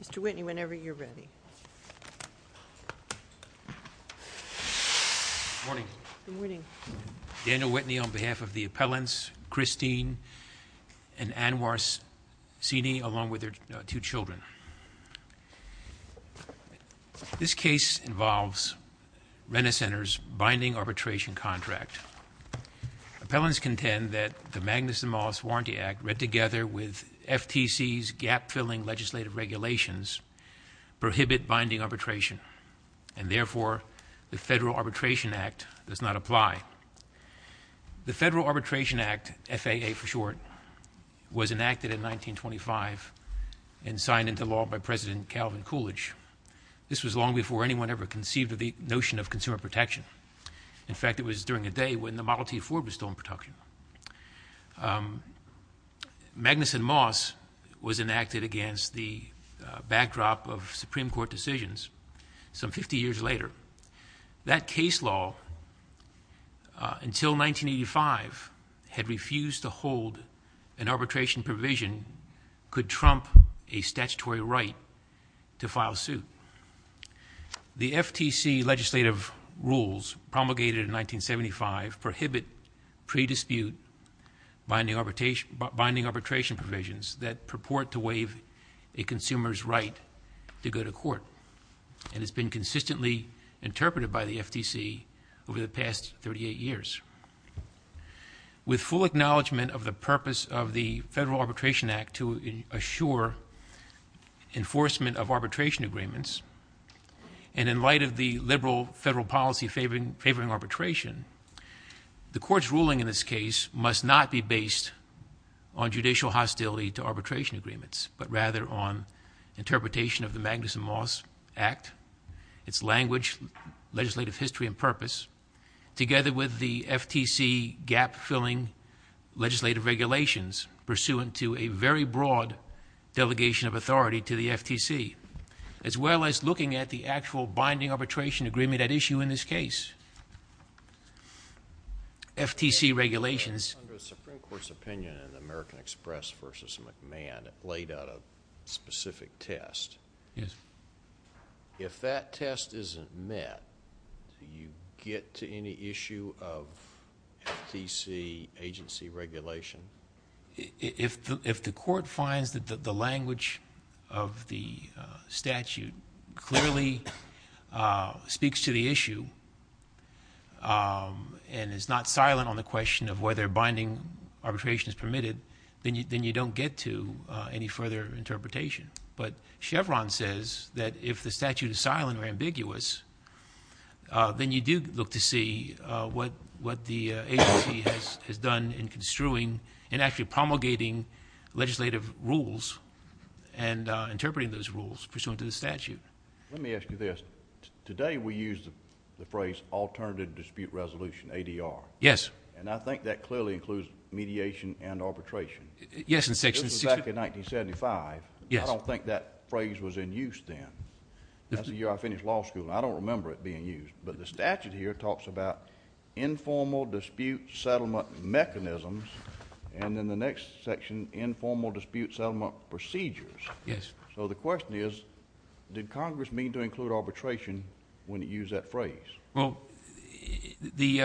Mr. Whitney, whenever you're ready. Good morning. Good morning. Daniel Whitney on behalf of the appellants Christine and Anwar Seney along with their two children. This case involves Rent-a-Center's binding arbitration contract. Appellants contend that the Magnuson-Mollis Warranty Act, read together with FTC's gap-filling legislative regulations, prohibit binding arbitration, and therefore the Federal Arbitration Act does not apply. The Federal Arbitration Act, FAA for short, was enacted in 1925 and signed into law by President Calvin Coolidge. This was long before anyone ever conceived of the notion of consumer protection. In fact, it was during a day when the Model T4 was still in production. Magnuson-Mollis was enacted against the backdrop of Supreme Court decisions some 50 years later. That case law, until 1985, had refused to hold an arbitration provision could trump a statutory right to file suit. The FTC legislative rules, promulgated in 1975, prohibit pre-dispute binding arbitration provisions that purport to waive a consumer's right to go to court. And it's been consistently interpreted by the FTC over the past 38 years. With full acknowledgment of the purpose of the Federal Arbitration Act to assure enforcement of arbitration agreements, and in light of the liberal federal policy favoring arbitration, the Court's ruling in this case must not be based on judicial hostility to arbitration agreements, but rather on interpretation of the Magnuson-Mollis Act, its language, legislative history, and purpose, together with the FTC gap-filling legislative regulations, pursuant to a very broad delegation of authority to the FTC, as well as looking at the actual binding arbitration agreement at issue in this case. FTC regulations. Under the Supreme Court's opinion in the American Express v. McMahon, it laid out a specific test. Yes. If that test isn't met, do you get to any issue of FTC agency regulation? If the Court finds that the language of the statute clearly speaks to the issue and is not silent on the question of whether binding arbitration is permitted, then you don't get to any further interpretation. But Chevron says that if the statute is silent or ambiguous, then you do look to see what the agency has done in construing and actually promulgating legislative rules and interpreting those rules pursuant to the statute. Let me ask you this. Today we use the phrase alternative dispute resolution, ADR. Yes. And I think that clearly includes mediation and arbitration. Yes. This was back in 1975. Yes. I don't think that phrase was in use then. That's the year I finished law school, and I don't remember it being used. But the statute here talks about informal dispute settlement mechanisms, and in the next section, informal dispute settlement procedures. Yes. So the question is, did Congress mean to include arbitration when it used that phrase? Well, the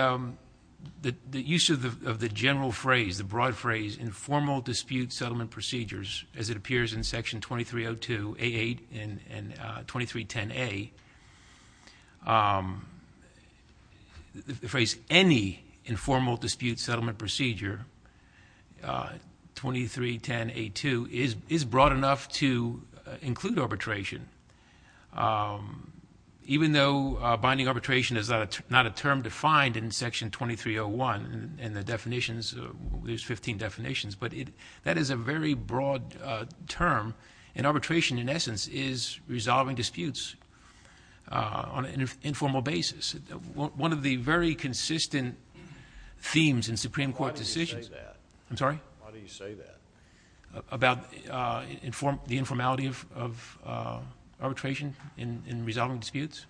use of the general phrase, the broad phrase, informal dispute settlement procedures, as it appears in Section 2302A8 and 2310A, the phrase any informal dispute settlement procedure, 2310A2, is broad enough to include arbitration. Even though binding arbitration is not a term defined in Section 2301 in the definitions, there's 15 definitions, but that is a very broad term, and arbitration in essence is resolving disputes on an informal basis. One of the very consistent themes in Supreme Court decisions. Why do you say that? I'm sorry? Why do you say that? About the informality of arbitration in resolving disputes?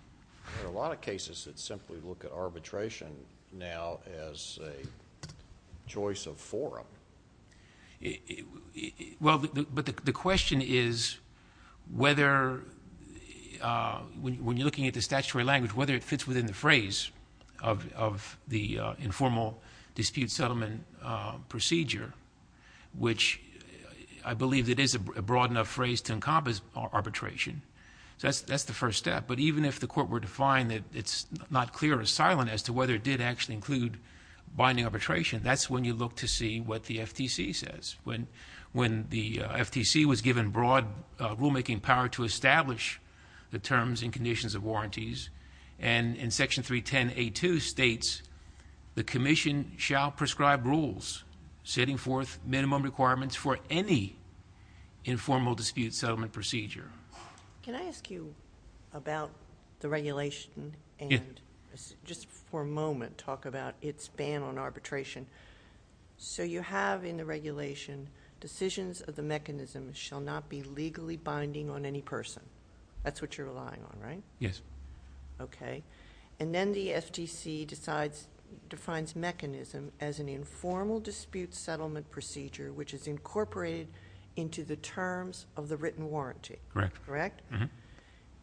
There are a lot of cases that simply look at arbitration now as a choice of forum. Well, but the question is whether, when you're looking at the statutory language, whether it fits within the phrase of the informal dispute settlement procedure, which I believe it is a broad enough phrase to encompass arbitration. So that's the first step. But even if the court were to find that it's not clear or silent as to whether it did actually include binding arbitration, that's when you look to see what the FTC says. When the FTC was given broad rulemaking power to establish the terms and conditions of warranties, and in Section 310A2 states, the commission shall prescribe rules setting forth minimum requirements for any informal dispute settlement procedure. Can I ask you about the regulation and just for a moment talk about its ban on arbitration? So you have in the regulation decisions of the mechanism shall not be legally binding on any person. That's what you're relying on, right? Yes. Okay. And then the FTC defines mechanism as an informal dispute settlement procedure, which is incorporated into the terms of the written warranty. Correct. Correct?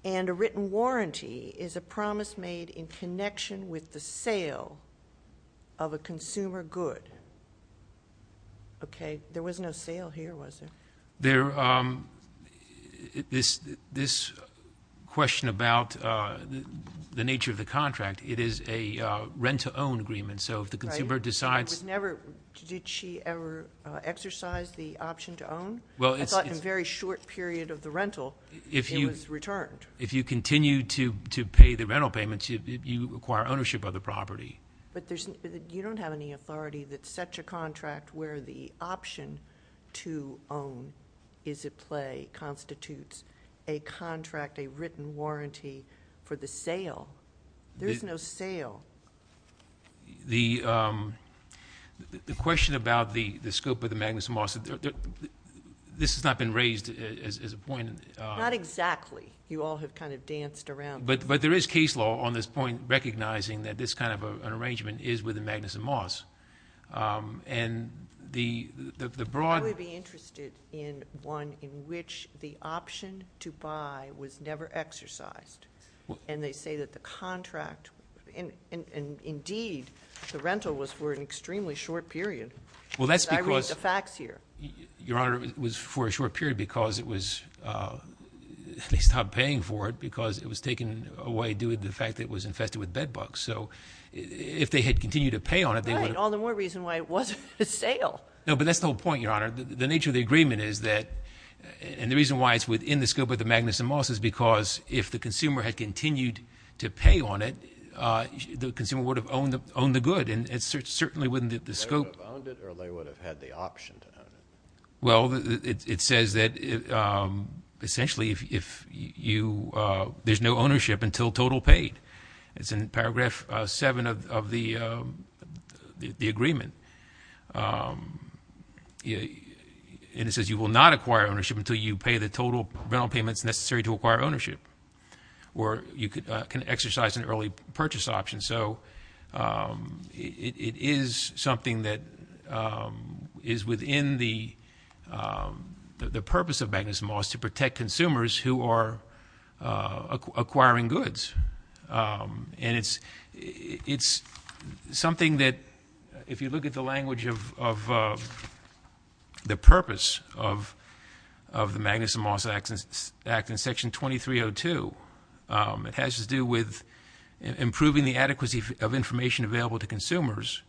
And a written warranty is a promise made in connection with the sale of a consumer good. Okay. There was no sale here, was there? This question about the nature of the contract, it is a rent-to-own agreement. So if the consumer decides— Did she ever exercise the option to own? I thought in a very short period of the rental, it was returned. If you continue to pay the rental payments, you acquire ownership of the property. But you don't have any authority that such a contract where the option to own is at play constitutes a contract, a written warranty for the sale. There's no sale. The question about the scope of the Magnuson-Moss, this has not been raised as a point— Not exactly. You all have kind of danced around. But there is case law on this point recognizing that this kind of an arrangement is with the Magnuson-Moss. And the broad— I would be interested in one in which the option to buy was never exercised. And they say that the contract— Indeed, the rental was for an extremely short period. Well, that's because— I read the facts here. Your Honor, it was for a short period because it was— They stopped paying for it because it was taken away due to the fact that it was infested with bed bugs. So if they had continued to pay on it, they would have— Right. All the more reason why it wasn't a sale. No, but that's the whole point, Your Honor. The nature of the agreement is that— If the consumer had continued to pay on it, the consumer would have owned the good. And certainly within the scope— They would have owned it or they would have had the option to own it. Well, it says that essentially if you—there's no ownership until total paid. It's in paragraph 7 of the agreement. And it says you will not acquire ownership until you pay the total rental payments necessary to acquire ownership or you can exercise an early purchase option. So it is something that is within the purpose of Magnus Maas to protect consumers who are acquiring goods. And it's something that if you look at the language of the purpose of the Magnus Maas Act in Section 2302, it has to do with improving the adequacy of information available to consumers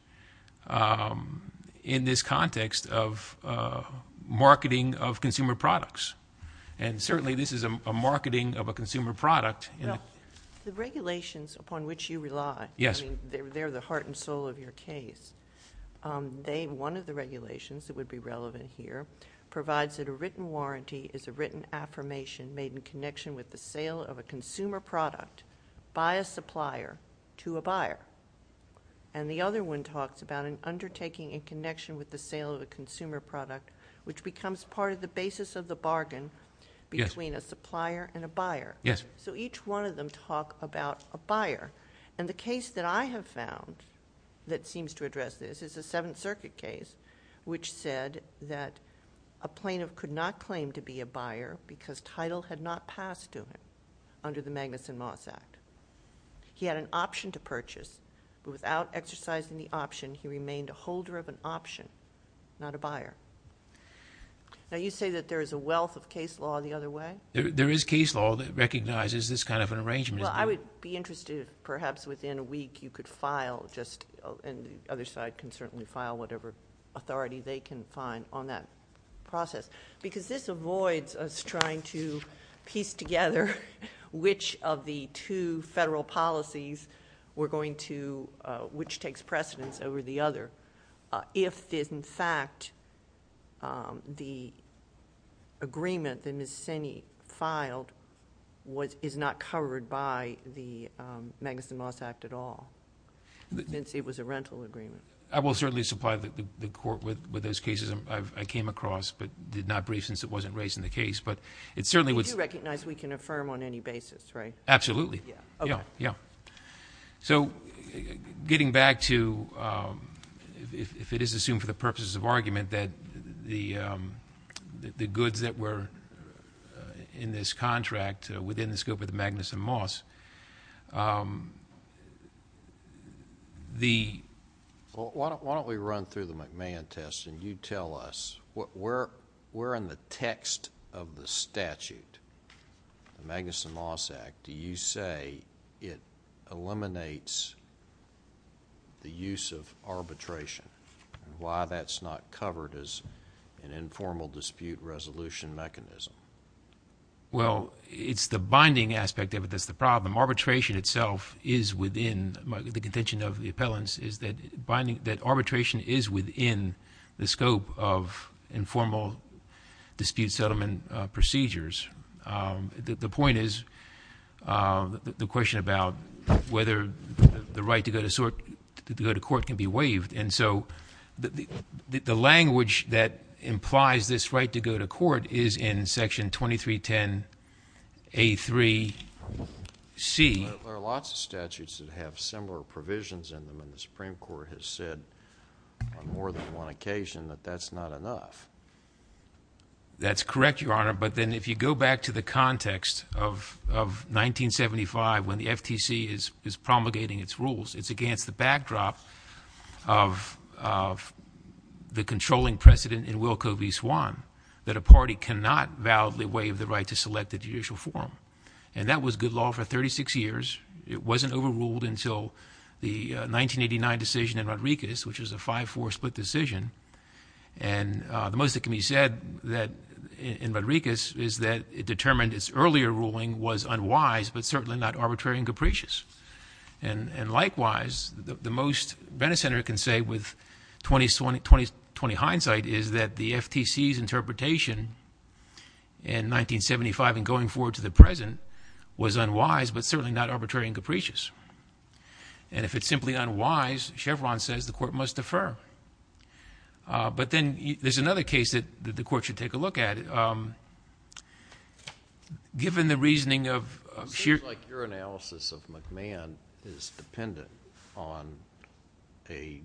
in this context of marketing of consumer products. And certainly this is a marketing of a consumer product. Well, the regulations upon which you rely, I mean, they're the heart and soul of your case. One of the regulations that would be relevant here provides that a written warranty is a written affirmation made in connection with the sale of a consumer product by a supplier to a buyer. And the other one talks about an undertaking in connection with the sale of a consumer product, which becomes part of the basis of the bargain between a supplier and a buyer. Yes. So each one of them talk about a buyer. And the case that I have found that seems to address this is a Seventh Circuit case, which said that a plaintiff could not claim to be a buyer because title had not passed to him under the Magnus Maas Act. He had an option to purchase, but without exercising the option, he remained a holder of an option, not a buyer. Now, you say that there is a wealth of case law the other way? There is case law that recognizes this kind of an arrangement. Well, I would be interested, perhaps within a week, you could file just, and the other side can certainly file whatever authority they can find on that process, because this avoids us trying to piece together which of the two federal policies we're going to, which takes precedence over the other. If, in fact, the agreement that Ms. Sinney filed is not covered by the Magnus Maas Act at all, since it was a rental agreement. I will certainly supply the Court with those cases I came across, but did not brief since it wasn't raised in the case, but it certainly... You do recognize we can affirm on any basis, right? Absolutely. Yeah. Okay. Yeah. So, getting back to, if it is assumed for the purposes of argument, that the goods that were in this contract within the scope of the Magnus and Maas, the... Why don't we run through the McMahon test, and you tell us where in the text of the statute, the Magnus and Maas Act, do you say it eliminates the use of arbitration, and why that's not covered as an informal dispute resolution mechanism? Well, it's the binding aspect of it that's the problem. Arbitration itself is within the contention of the appellants, is that arbitration is within the scope of informal dispute settlement procedures. The point is, the question about whether the right to go to court can be waived. And so, the language that implies this right to go to court is in Section 2310A3C. There are lots of statutes that have similar provisions in them, and the Supreme Court has said on more than one occasion that that's not enough. That's correct, Your Honor. But then, if you go back to the context of 1975 when the FTC is promulgating its rules, it's against the backdrop of the controlling precedent in Wilco v. Swan that a party cannot validly waive the right to select a judicial forum. And that was good law for 36 years. It wasn't overruled until the 1989 decision in Rodriguez, which was a 5-4 split decision. And the most that can be said in Rodriguez is that it determined its earlier ruling was unwise, but certainly not arbitrary and capricious. And likewise, the most Bennett Center can say with 20's hindsight is that the FTC's interpretation in 1975 and going forward to the present was unwise, but certainly not arbitrary and capricious. And if it's simply unwise, Chevron says the court must defer. But then there's another case that the court should take a look at. Given the reasoning of sheer... It seems like your analysis of McMahon is dependent on a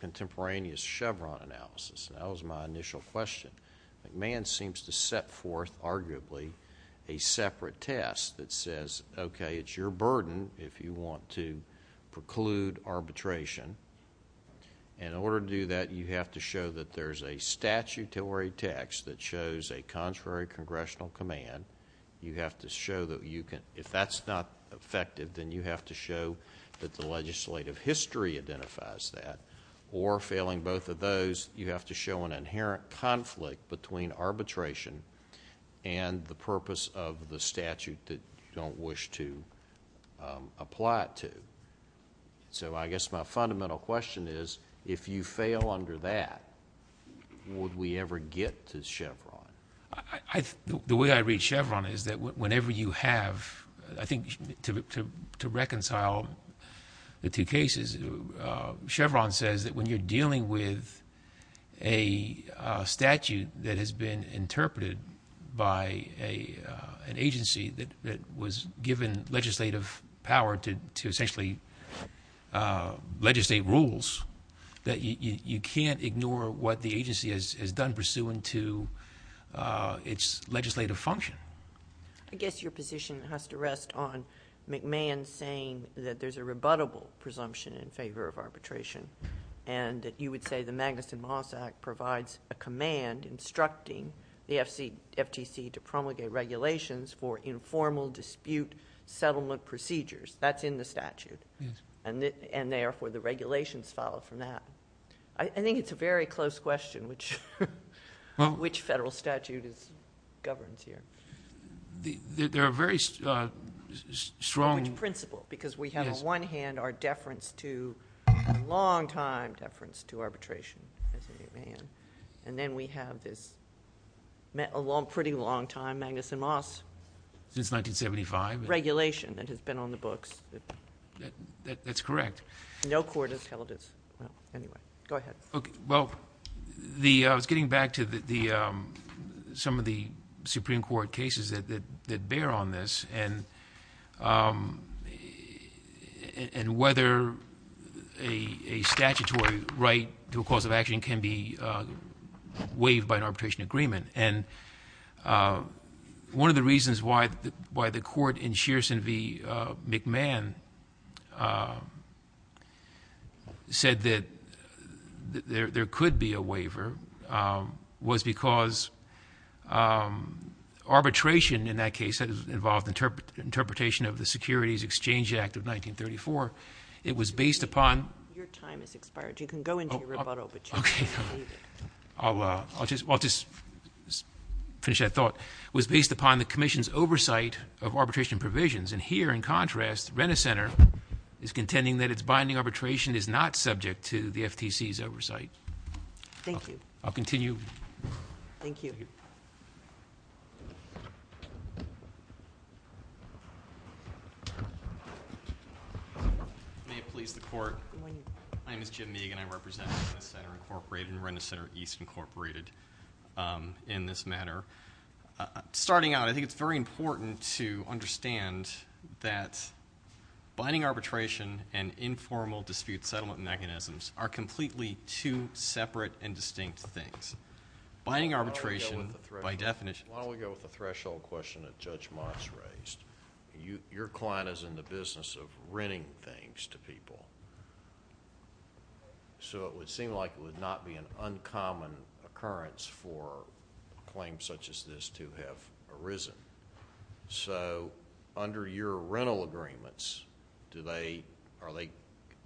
contemporaneous Chevron analysis. That was my initial question. McMahon seems to set forth, arguably, a separate test that says, okay, it's your burden if you want to preclude arbitration. In order to do that, you have to show that there's a statutory text that shows a contrary congressional command. You have to show that you can... If that's not effective, then you have to show that the legislative history identifies that. Or failing both of those, you have to show an inherent conflict between arbitration and the purpose of the statute that you don't wish to apply it to. I guess my fundamental question is, if you fail under that, would we ever get to Chevron? The way I read Chevron is that whenever you have... To reconcile the two cases, Chevron says that when you're dealing with a statute that has been interpreted by an agency that was given legislative power to essentially legislate rules, that you can't ignore what the agency has done pursuant to its legislative function. I guess your position has to rest on McMahon saying that there's a rebuttable presumption in favor of arbitration, and that you would say the Magnuson-Moss Act provides a command instructing the FTC to promulgate regulations for informal dispute settlement procedures. That's in the statute, and therefore the regulations follow from that. I think it's a very close question, which federal statute governs here. There are very strong... Which principle, because we have on one hand our deference to, long-time deference to arbitration, and then we have this pretty long-time Magnuson-Moss... Since 1975.... regulation that has been on the books. That's correct. No court intelligence. Anyway, go ahead. Well, I was getting back to some of the Supreme Court cases that bear on this, and whether a statutory right to a cause of action can be waived by an arbitration agreement. One of the reasons why the court in Shearson v. McMahon said that there could be a waiver was because arbitration in that case involved interpretation of the Securities Exchange Act of 1934. It was based upon... Your time has expired. You can go into your rebuttal, but you can't leave. I'll just finish that thought. It was based upon the Commission's oversight of arbitration provisions, and here, in contrast, Renner Center is contending that its binding arbitration is not subject to the FTC's oversight. Thank you. I'll continue. Thank you. May it please the Court. My name is Jim Meaghan. I represent Renner Center, Incorporated, and Renner Center East, Incorporated, in this matter. Starting out, I think it's very important to understand that binding arbitration and informal dispute settlement mechanisms are completely two separate and distinct things. Binding arbitration, by definition... Why don't we go with the threshold question that Judge Moss raised. Your client is in the business of renting things to people, so it would seem like it would not be an uncommon occurrence for a claim such as this to have arisen. Under your rental agreements, are they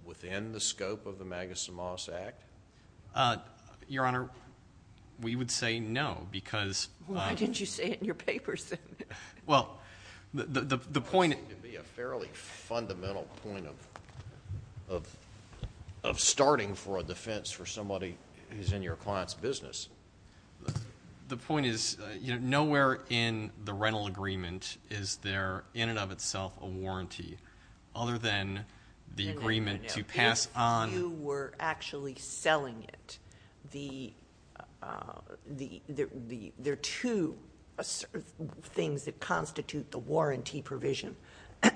within the scope of the Magus and Moss Act? Your Honor, we would say no because... Why didn't you say it in your papers then? Well, the point... It would be a fairly fundamental point of starting for a defense for somebody who's in your client's business. The point is, nowhere in the rental agreement is there, in and of itself, a warranty, other than the agreement to pass on... If you were actually selling it, there are two things that constitute the warranty provision.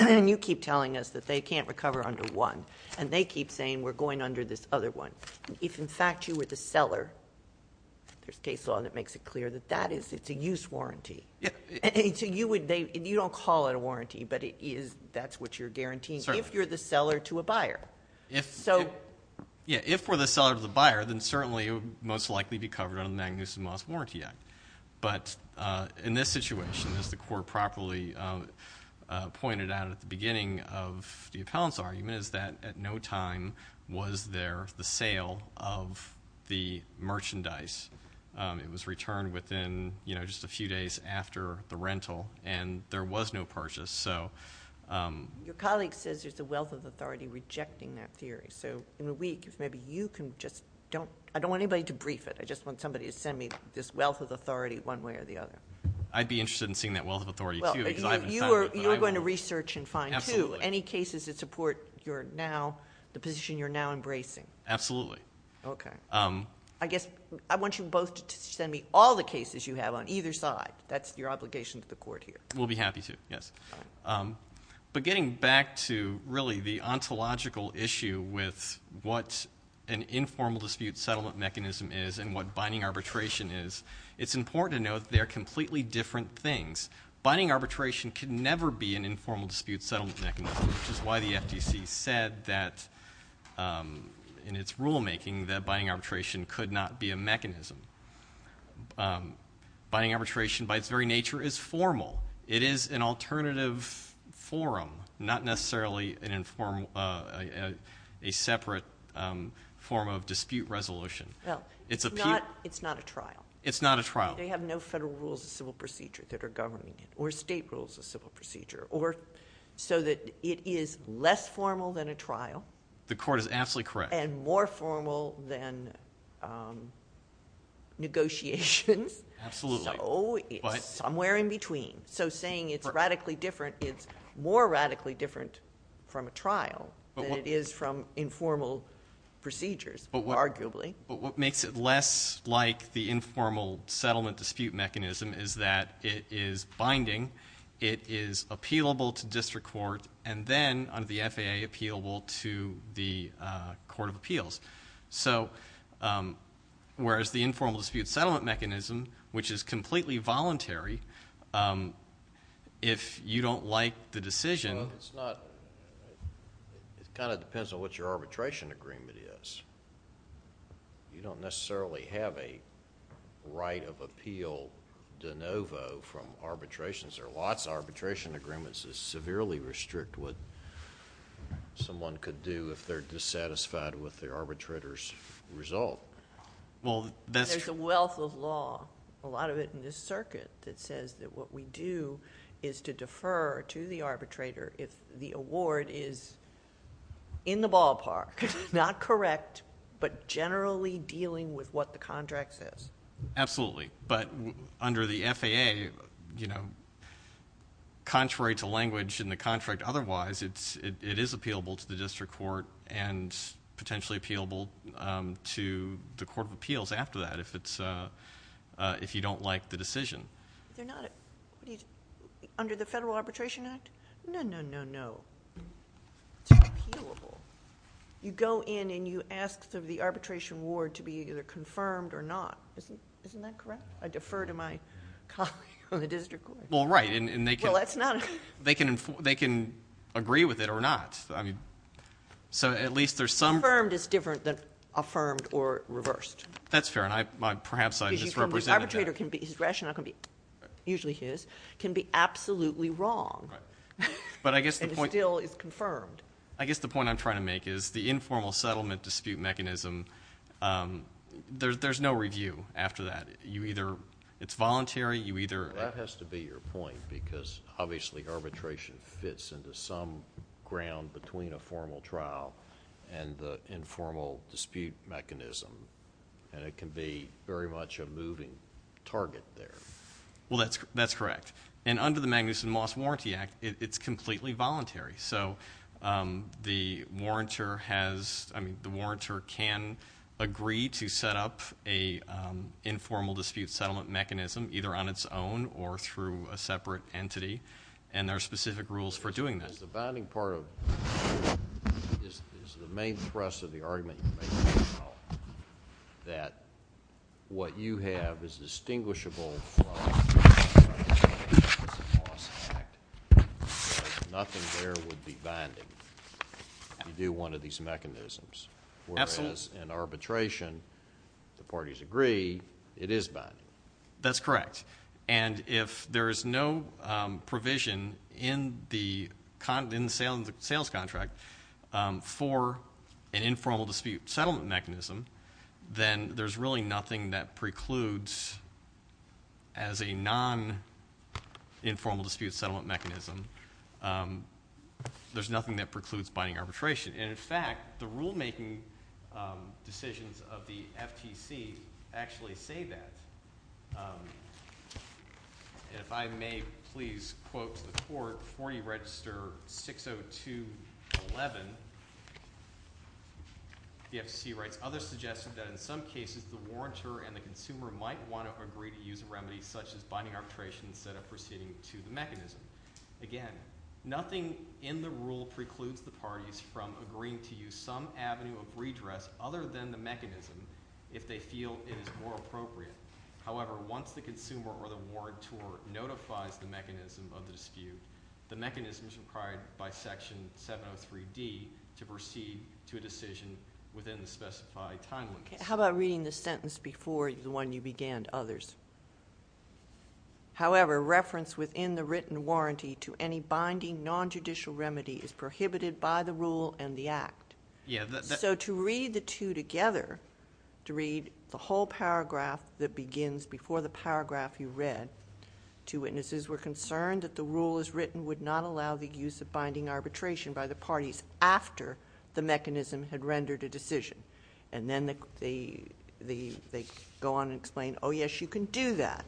You keep telling us that they can't recover under one, and they keep saying, we're going under this other one. If, in fact, you were the seller, there's case law that makes it clear that that is a use warranty. You don't call it a warranty, but that's what you're guaranteeing, if you're the seller to a buyer. If we're the seller to the buyer, then certainly it would most likely be covered under the Magus and Moss Warranty Act. But in this situation, as the Court properly pointed out at the beginning of the appellant's argument, is that at no time was there the sale of the merchandise. It was returned within just a few days after the rental, and there was no purchase. Your colleague says there's a wealth of authority rejecting that theory. In a week, if maybe you can just... I don't want anybody to brief it. I just want somebody to send me this wealth of authority one way or the other. I'd be interested in seeing that wealth of authority, too, because I haven't found it. You're going to research and find, too, any cases that support the position you're now embracing. Absolutely. Okay. I want you both to send me all the cases you have on either side. That's your obligation to the Court here. We'll be happy to, yes. But getting back to, really, the ontological issue with what an informal dispute settlement mechanism is and what binding arbitration is, it's important to note that they are completely different things. Binding arbitration can never be an informal dispute settlement mechanism, which is why the FDC said that in its rulemaking that binding arbitration could not be a mechanism. Binding arbitration, by its very nature, is formal. It is an alternative forum, not necessarily a separate form of dispute resolution. Well, it's not a trial. It's not a trial. They have no federal rules of civil procedure that are governing it, or state rules of civil procedure, so that it is less formal than a trial... The Court is absolutely correct.... and more formal than negotiations. Absolutely. So it's somewhere in between. So saying it's radically different, it's more radically different from a trial than it is from informal procedures, arguably. But what makes it less like the informal settlement dispute mechanism is that it is binding, it is appealable to district court, and then, under the FAA, appealable to the Court of Appeals. So whereas the informal dispute settlement mechanism, which is completely voluntary, if you don't like the decision... Well, it's not... it kind of depends on what your arbitration agreement is. You don't necessarily have a right of appeal de novo from arbitrations. There are lots of arbitration agreements that severely restrict what someone could do, if they're dissatisfied with the arbitrator's result. Well, that's... There's a wealth of law, a lot of it in this circuit, that says that what we do is to defer to the arbitrator, if the award is in the ballpark, not correct, but generally dealing with what the contract says. Absolutely. But under the FAA, you know, contrary to language in the contract otherwise, it is appealable to the district court and potentially appealable to the Court of Appeals after that, if you don't like the decision. They're not... under the Federal Arbitration Act? No, no, no, no. It's appealable. You go in and you ask for the arbitration award to be either confirmed or not. Isn't that correct? I defer to my colleague on the district court. Well, right, and they can... Well, that's not... They can agree with it or not. I mean, so at least there's some... Affirmed is different than affirmed or reversed. That's fair, and perhaps I misrepresented that. The arbitrator can be... his rationale can be usually his, can be absolutely wrong. Right. But I guess the point... And it still is confirmed. I guess the point I'm trying to make is the informal settlement dispute mechanism, there's no review after that. You either... it's voluntary, you either... That has to be your point because obviously arbitration fits into some ground between a formal trial and the informal dispute mechanism, and it can be very much a moving target there. Well, that's correct. And under the Magnuson-Moss Warranty Act, it's completely voluntary. So the warrantor has... I mean, the warrantor can agree to set up an informal dispute settlement mechanism, either on its own or through a separate entity, and there are specific rules for doing that. Is the binding part of... is the main thrust of the argument that what you have is distinguishable from the Magnuson-Moss Act because nothing there would be binding if you do one of these mechanisms. Absolutely. Whereas in arbitration, the parties agree it is binding. That's correct. And if there is no provision in the sales contract for an informal dispute settlement mechanism, then there's really nothing that precludes, as a non-informal dispute settlement mechanism, there's nothing that precludes binding arbitration. And in fact, the rulemaking decisions of the FTC actually say that. And if I may please quote to the court, 40 Register 60211, the FTC writes, others suggested that in some cases the warrantor and the consumer might want to agree to use a remedy such as binding arbitration instead of proceeding to the mechanism. Again, nothing in the rule precludes the parties from agreeing to use some avenue of redress other than the mechanism if they feel it is more appropriate. However, once the consumer or the warrantor notifies the mechanism of the dispute, the mechanism is required by Section 703D to proceed to a decision within the specified time limits. How about reading the sentence before the one you began, others? However, reference within the written warranty to any binding non-judicial remedy is prohibited by the rule and the act. So to read the two together, to read the whole paragraph that begins before the paragraph you read, two witnesses were concerned that the rule as written would not allow the use of binding arbitration by the parties after the mechanism had rendered a decision. And then they go on and explain, oh, yes, you can do that.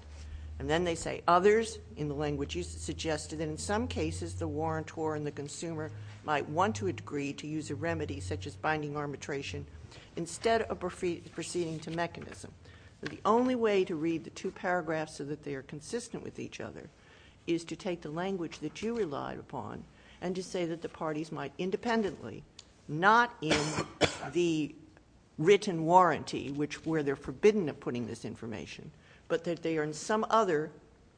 And then they say, others, in the language you suggested, in some cases the warrantor and the consumer might want to agree to use a remedy such as binding arbitration instead of proceeding to mechanism. But the only way to read the two paragraphs so that they are consistent with each other is to take the language that you relied upon and to say that the parties might independently, not in the written warranty where they're forbidden of putting this information, but that they are in some other,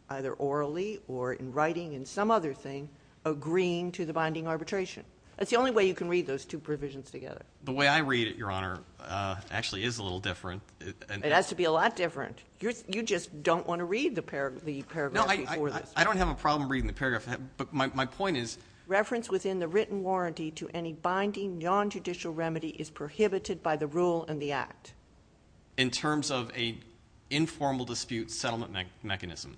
either orally or in writing in some other thing, agreeing to the binding arbitration. That's the only way you can read those two provisions together. The way I read it, Your Honor, actually is a little different. It has to be a lot different. You just don't want to read the paragraph before this. No, I don't have a problem reading the paragraph. Reference within the written warranty to any binding non-judicial remedy is prohibited by the rule in the Act. In terms of an informal dispute settlement mechanism.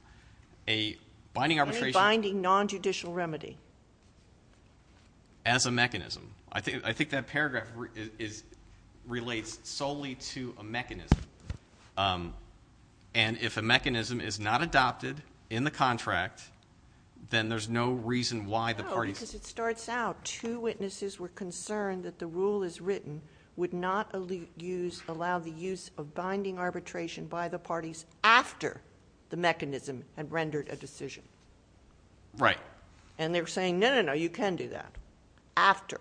Any binding non-judicial remedy. As a mechanism. I think that paragraph relates solely to a mechanism. And if a mechanism is not adopted in the contract, then there's no reason why the parties... No, because it starts out, two witnesses were concerned that the rule as written would not allow the use of binding arbitration by the parties after the mechanism had rendered a decision. Right. And they're saying, no, no, no, you can do that. After.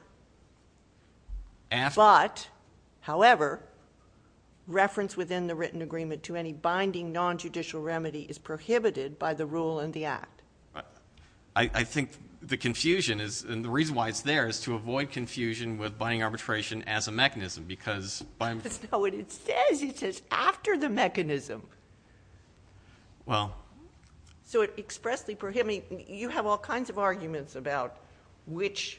But, however, reference within the written agreement to any binding non-judicial remedy is prohibited by the rule in the Act. I think the confusion is, and the reason why it's there, is to avoid confusion with binding arbitration as a mechanism, because... That's not what it says. It says after the mechanism. Well... So it expressly prohibits... You have all kinds of arguments about which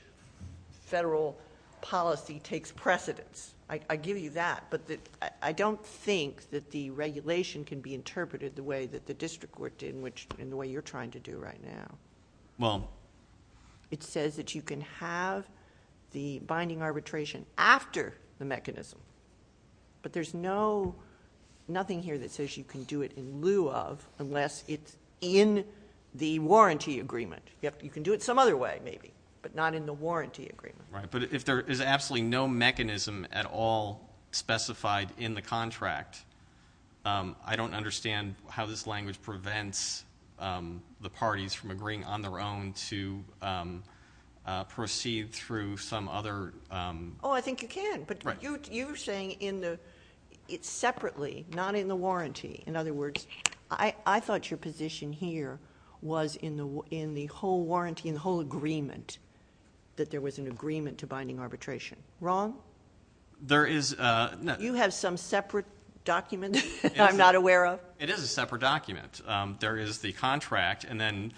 federal policy takes precedence. I give you that, but I don't think that the regulation can be interpreted the way that the district court did and the way you're trying to do right now. Well... It says that you can have the binding arbitration after the mechanism, but there's nothing here that says you can do it in lieu of, unless it's in the warranty agreement. You can do it some other way, maybe, but not in the warranty agreement. Right, but if there is absolutely no mechanism at all specified in the contract, I don't understand how this language prevents the parties from agreeing on their own to proceed through some other... Oh, I think you can, but you're saying it's separately, not in the warranty. In other words, I thought your position here was in the whole warranty, in the whole agreement, that there was an agreement to binding arbitration. Wrong? There is... You have some separate document that I'm not aware of? It is a separate document. There is the contract, and then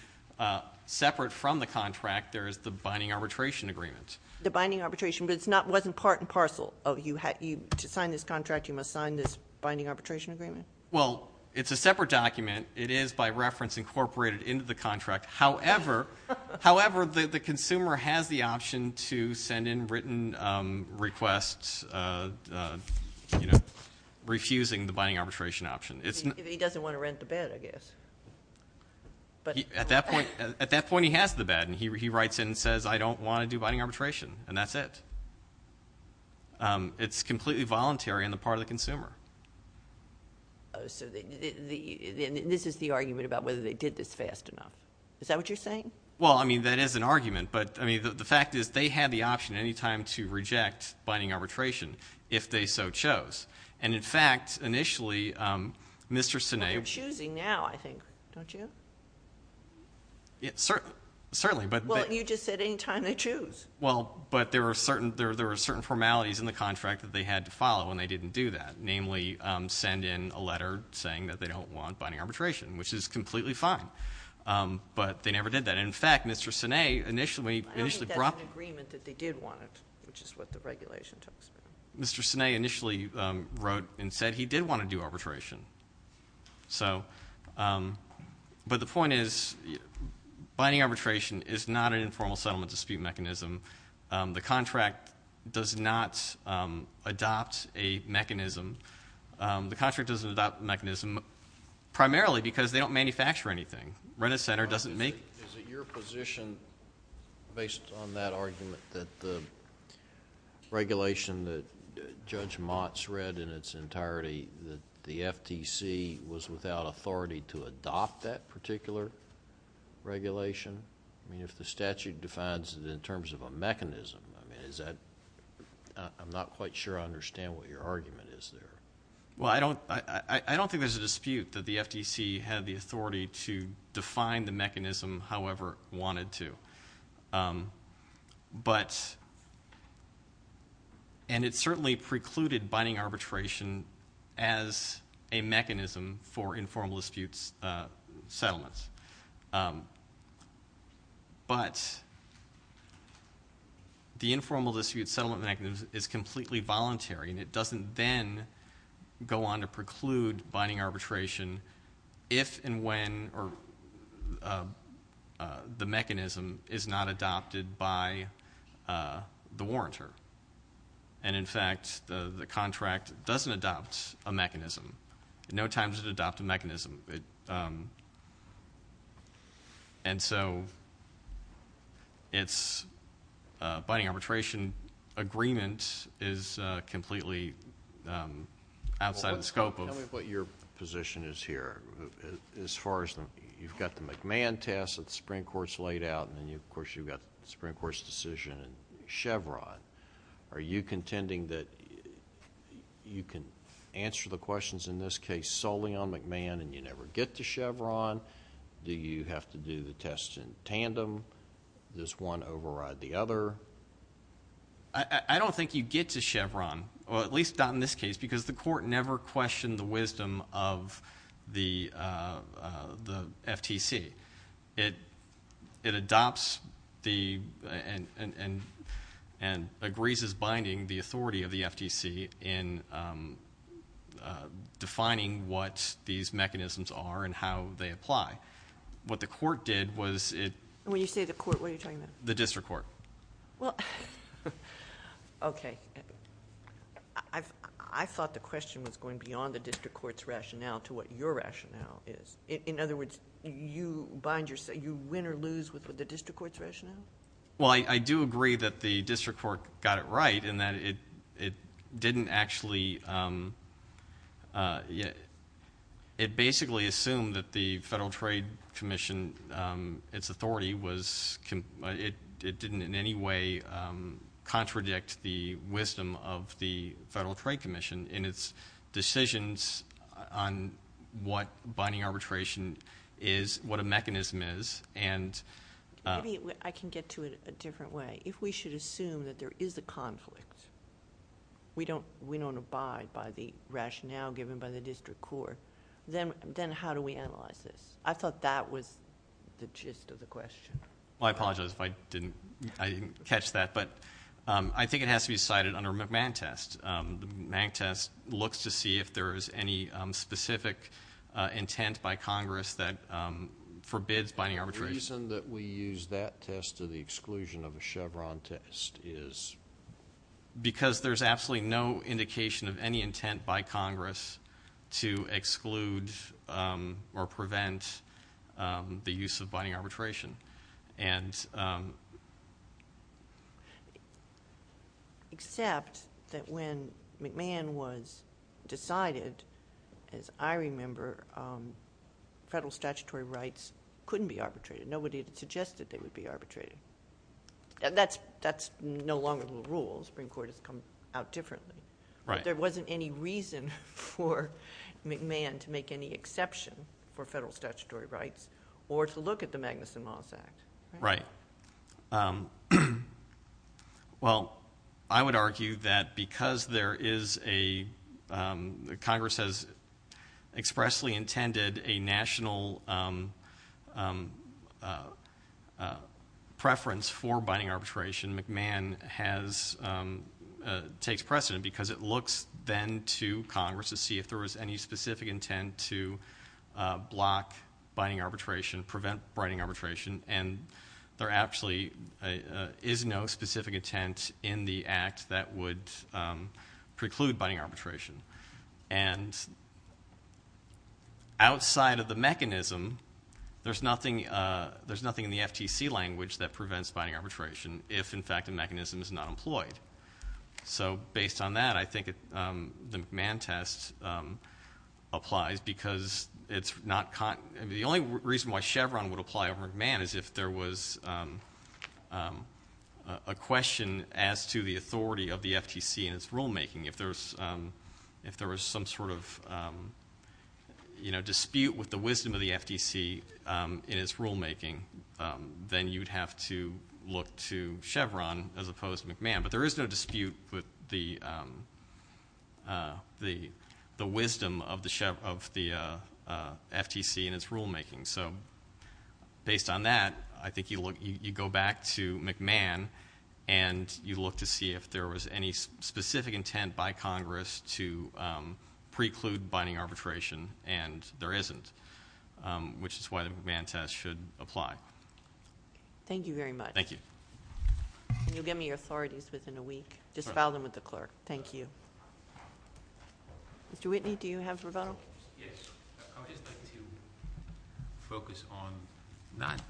separate from the contract, there is the binding arbitration agreement. The binding arbitration, but it wasn't part and parcel of, to sign this contract, you must sign this binding arbitration agreement? Well, it's a separate document. It is by reference incorporated into the contract. However, the consumer has the option to send in written requests, refusing the binding arbitration option. He doesn't want to rent the bed, I guess. At that point, he has the bed, and he writes in and says, I don't want to do binding arbitration, and that's it. It's completely voluntary on the part of the consumer. So this is the argument about whether they did this fast enough. Is that what you're saying? Well, I mean, that is an argument, but, I mean, the fact is they had the option at any time to reject binding arbitration, if they so chose. And, in fact, initially, Mr. Sinead... But you're choosing now, I think, don't you? Certainly, but... Well, you just said any time they choose. Well, but there were certain formalities in the contract that they had to follow, and they didn't do that, namely send in a letter saying that they don't want binding arbitration, which is completely fine. But they never did that. In fact, Mr. Sinead initially brought... I don't think that's an agreement that they did want it, which is what the regulation talks about. Mr. Sinead initially wrote and said he did want to do arbitration. So... But the point is binding arbitration is not an informal settlement dispute mechanism. The contract does not adopt a mechanism. The contract doesn't adopt a mechanism primarily because they don't manufacture anything. Rent-a-Center doesn't make... Is it your position, based on that argument, that the regulation that Judge Motz read in its entirety, that the FTC was without authority to adopt that particular regulation? I mean, if the statute defines it in terms of a mechanism, I mean, is that... I'm not quite sure I understand what your argument is there. Well, I don't think there's a dispute that the FTC had the authority to define the mechanism however it wanted to. But... And it certainly precluded binding arbitration as a mechanism for informal dispute settlements. But... the informal dispute settlement mechanism is completely voluntary, and it doesn't then go on to preclude binding arbitration if and when the mechanism is not adopted by the warrantor. And, in fact, the contract doesn't adopt a mechanism. In no time does it adopt a mechanism. And so its binding arbitration agreement is completely outside the scope of... As far as the... You've got the McMahon test that the Supreme Court's laid out, and then, of course, you've got the Supreme Court's decision in Chevron. Are you contending that you can answer the questions in this case solely on McMahon and you never get to Chevron? Do you have to do the tests in tandem? Does one override the other? I don't think you get to Chevron, or at least not in this case, because the court never questioned the wisdom of the FTC. It adopts and agrees as binding the authority of the FTC in defining what these mechanisms are and how they apply. What the court did was it... When you say the court, what are you talking about? The district court. Well... Okay. I thought the question was going beyond the district court's rationale to what your rationale is. In other words, you bind your... You win or lose with the district court's rationale? Well, I do agree that the district court got it right in that it didn't actually... It basically assumed that the Federal Trade Commission, its authority, it didn't in any way contradict the wisdom of the Federal Trade Commission in its decisions on what binding arbitration is, what a mechanism is. Maybe I can get to it a different way. If we should assume that there is a conflict, we don't abide by the rationale given by the district court, then how do we analyze this? I thought that was the gist of the question. Well, I apologize if I didn't catch that, but I think it has to be cited under a McMahon test. The McMahon test looks to see if there is any specific intent by Congress that forbids binding arbitration. The reason that we use that test to the exclusion of a Chevron test is? Because there's absolutely no indication of any intent by Congress to exclude or prevent the use of binding arbitration. Except that when McMahon was decided, as I remember, federal statutory rights couldn't be arbitrated. Nobody had suggested they would be arbitrated. That's no longer the rule. The Supreme Court has come out differently. There wasn't any reason for McMahon to make any exception for federal statutory rights or to look at the Magnuson-Moss Act. Right. Well, I would argue that because Congress has expressly intended a national preference for binding arbitration, McMahon takes precedent because it looks then to Congress to see if there was any specific intent to block binding arbitration, prevent binding arbitration, and there actually is no specific intent in the Act that would preclude binding arbitration. And outside of the mechanism, there's nothing in the FTC language that prevents binding arbitration if, in fact, the mechanism is not employed. So based on that, I think the McMahon test applies because the only reason why Chevron would apply over McMahon is if there was a question as to the authority of the FTC in its rulemaking. If there was some sort of dispute with the wisdom of the FTC in its rulemaking, then you'd have to look to Chevron as opposed to McMahon. But there is no dispute with the wisdom of the FTC in its rulemaking. So based on that, I think you go back to McMahon and you look to see if there was any specific intent by Congress to preclude binding arbitration, and there isn't, which is why the McMahon test should apply. Thank you very much. Thank you. And you'll give me your authorities within a week. Just file them with the clerk. Thank you. Mr. Whitney, do you have a rebuttal? Yes. I would just like to focus on not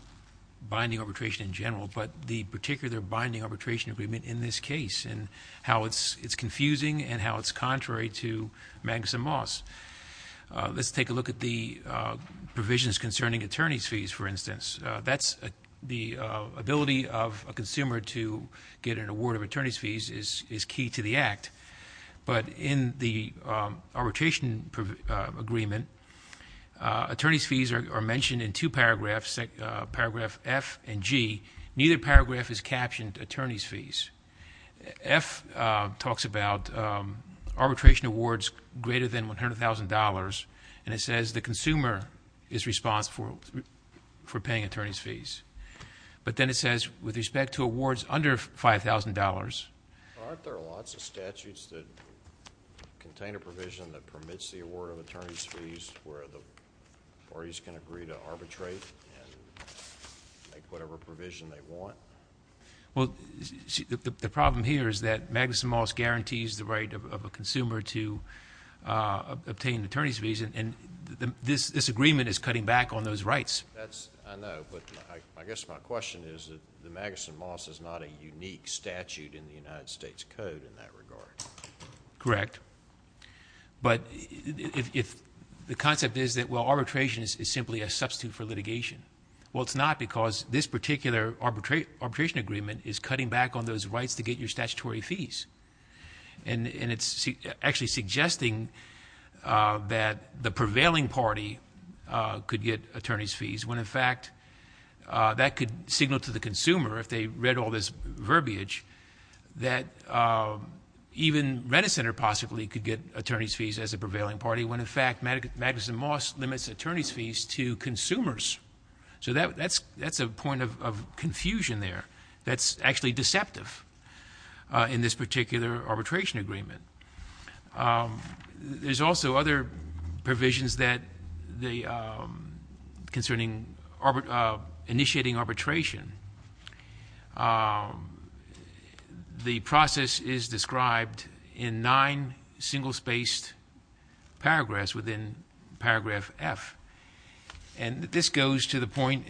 binding arbitration in general but the particular binding arbitration agreement in this case and how it's confusing and how it's contrary to Magnuson-Moss. Let's take a look at the provisions concerning attorney's fees, for instance. The ability of a consumer to get an award of attorney's fees is key to the act. But in the arbitration agreement, attorney's fees are mentioned in two paragraphs, paragraph F and G. Neither paragraph is captioned attorney's fees. F talks about arbitration awards greater than $100,000, and it says the consumer is responsible for paying attorney's fees. But then it says with respect to awards under $5,000. Aren't there lots of statutes that contain a provision that permits the award of attorney's fees where the parties can agree to arbitrate and make whatever provision they want? Well, the problem here is that Magnuson-Moss guarantees the right of a consumer to obtain attorney's fees, and this agreement is cutting back on those rights. I know, but I guess my question is that the Magnuson-Moss is not a unique statute in the United States Code in that regard. Correct. But the concept is that, well, arbitration is simply a substitute for litigation. Well, it's not because this particular arbitration agreement is cutting back on those rights to get your statutory fees, and it's actually suggesting that the prevailing party could get attorney's fees when, in fact, that could signal to the consumer, if they read all this verbiage, that even Renner Center possibly could get attorney's fees as a prevailing party when, in fact, Magnuson-Moss limits attorney's fees to consumers. So that's a point of confusion there. That's actually deceptive in this particular arbitration agreement. There's also other provisions concerning initiating arbitration. The process is described in nine single-spaced paragraphs within paragraph F, and this goes to the point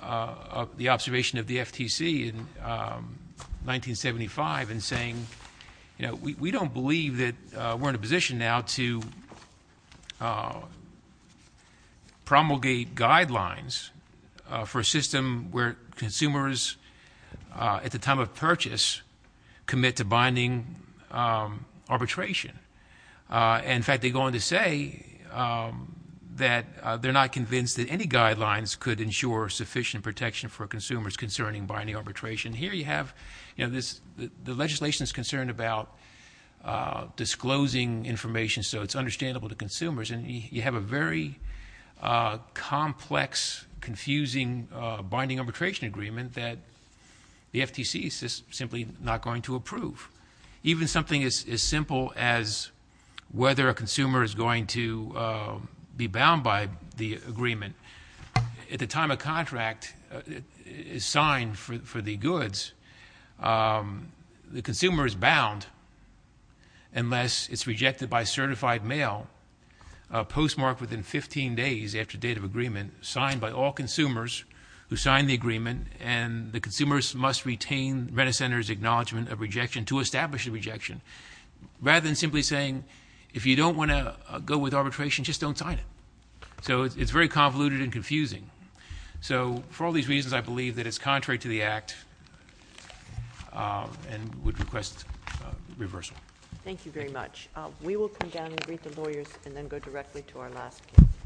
of the observation of the FTC in 1975 in saying, you know, we don't believe that we're in a position now to promulgate guidelines for a system where consumers, at the time of purchase, commit to binding arbitration. In fact, they go on to say that they're not convinced that any guidelines could ensure sufficient protection for consumers concerning binding arbitration. Here you have, you know, the legislation is concerned about disclosing information so it's understandable to consumers, and you have a very complex, confusing binding arbitration agreement that the FTC is simply not going to approve. Even something as simple as whether a consumer is going to be bound by the agreement, at the time a contract is signed for the goods, the consumer is bound unless it's rejected by certified mail, postmarked within 15 days after date of agreement, signed by all consumers who signed the agreement, and the consumers must retain the vendor center's acknowledgement of rejection to establish a rejection, rather than simply saying, if you don't want to go with arbitration, just don't sign it. So it's very convoluted and confusing. So for all these reasons, I believe that it's contrary to the Act and would request reversal. Thank you very much. We will come down and greet the lawyers and then go directly to our last case.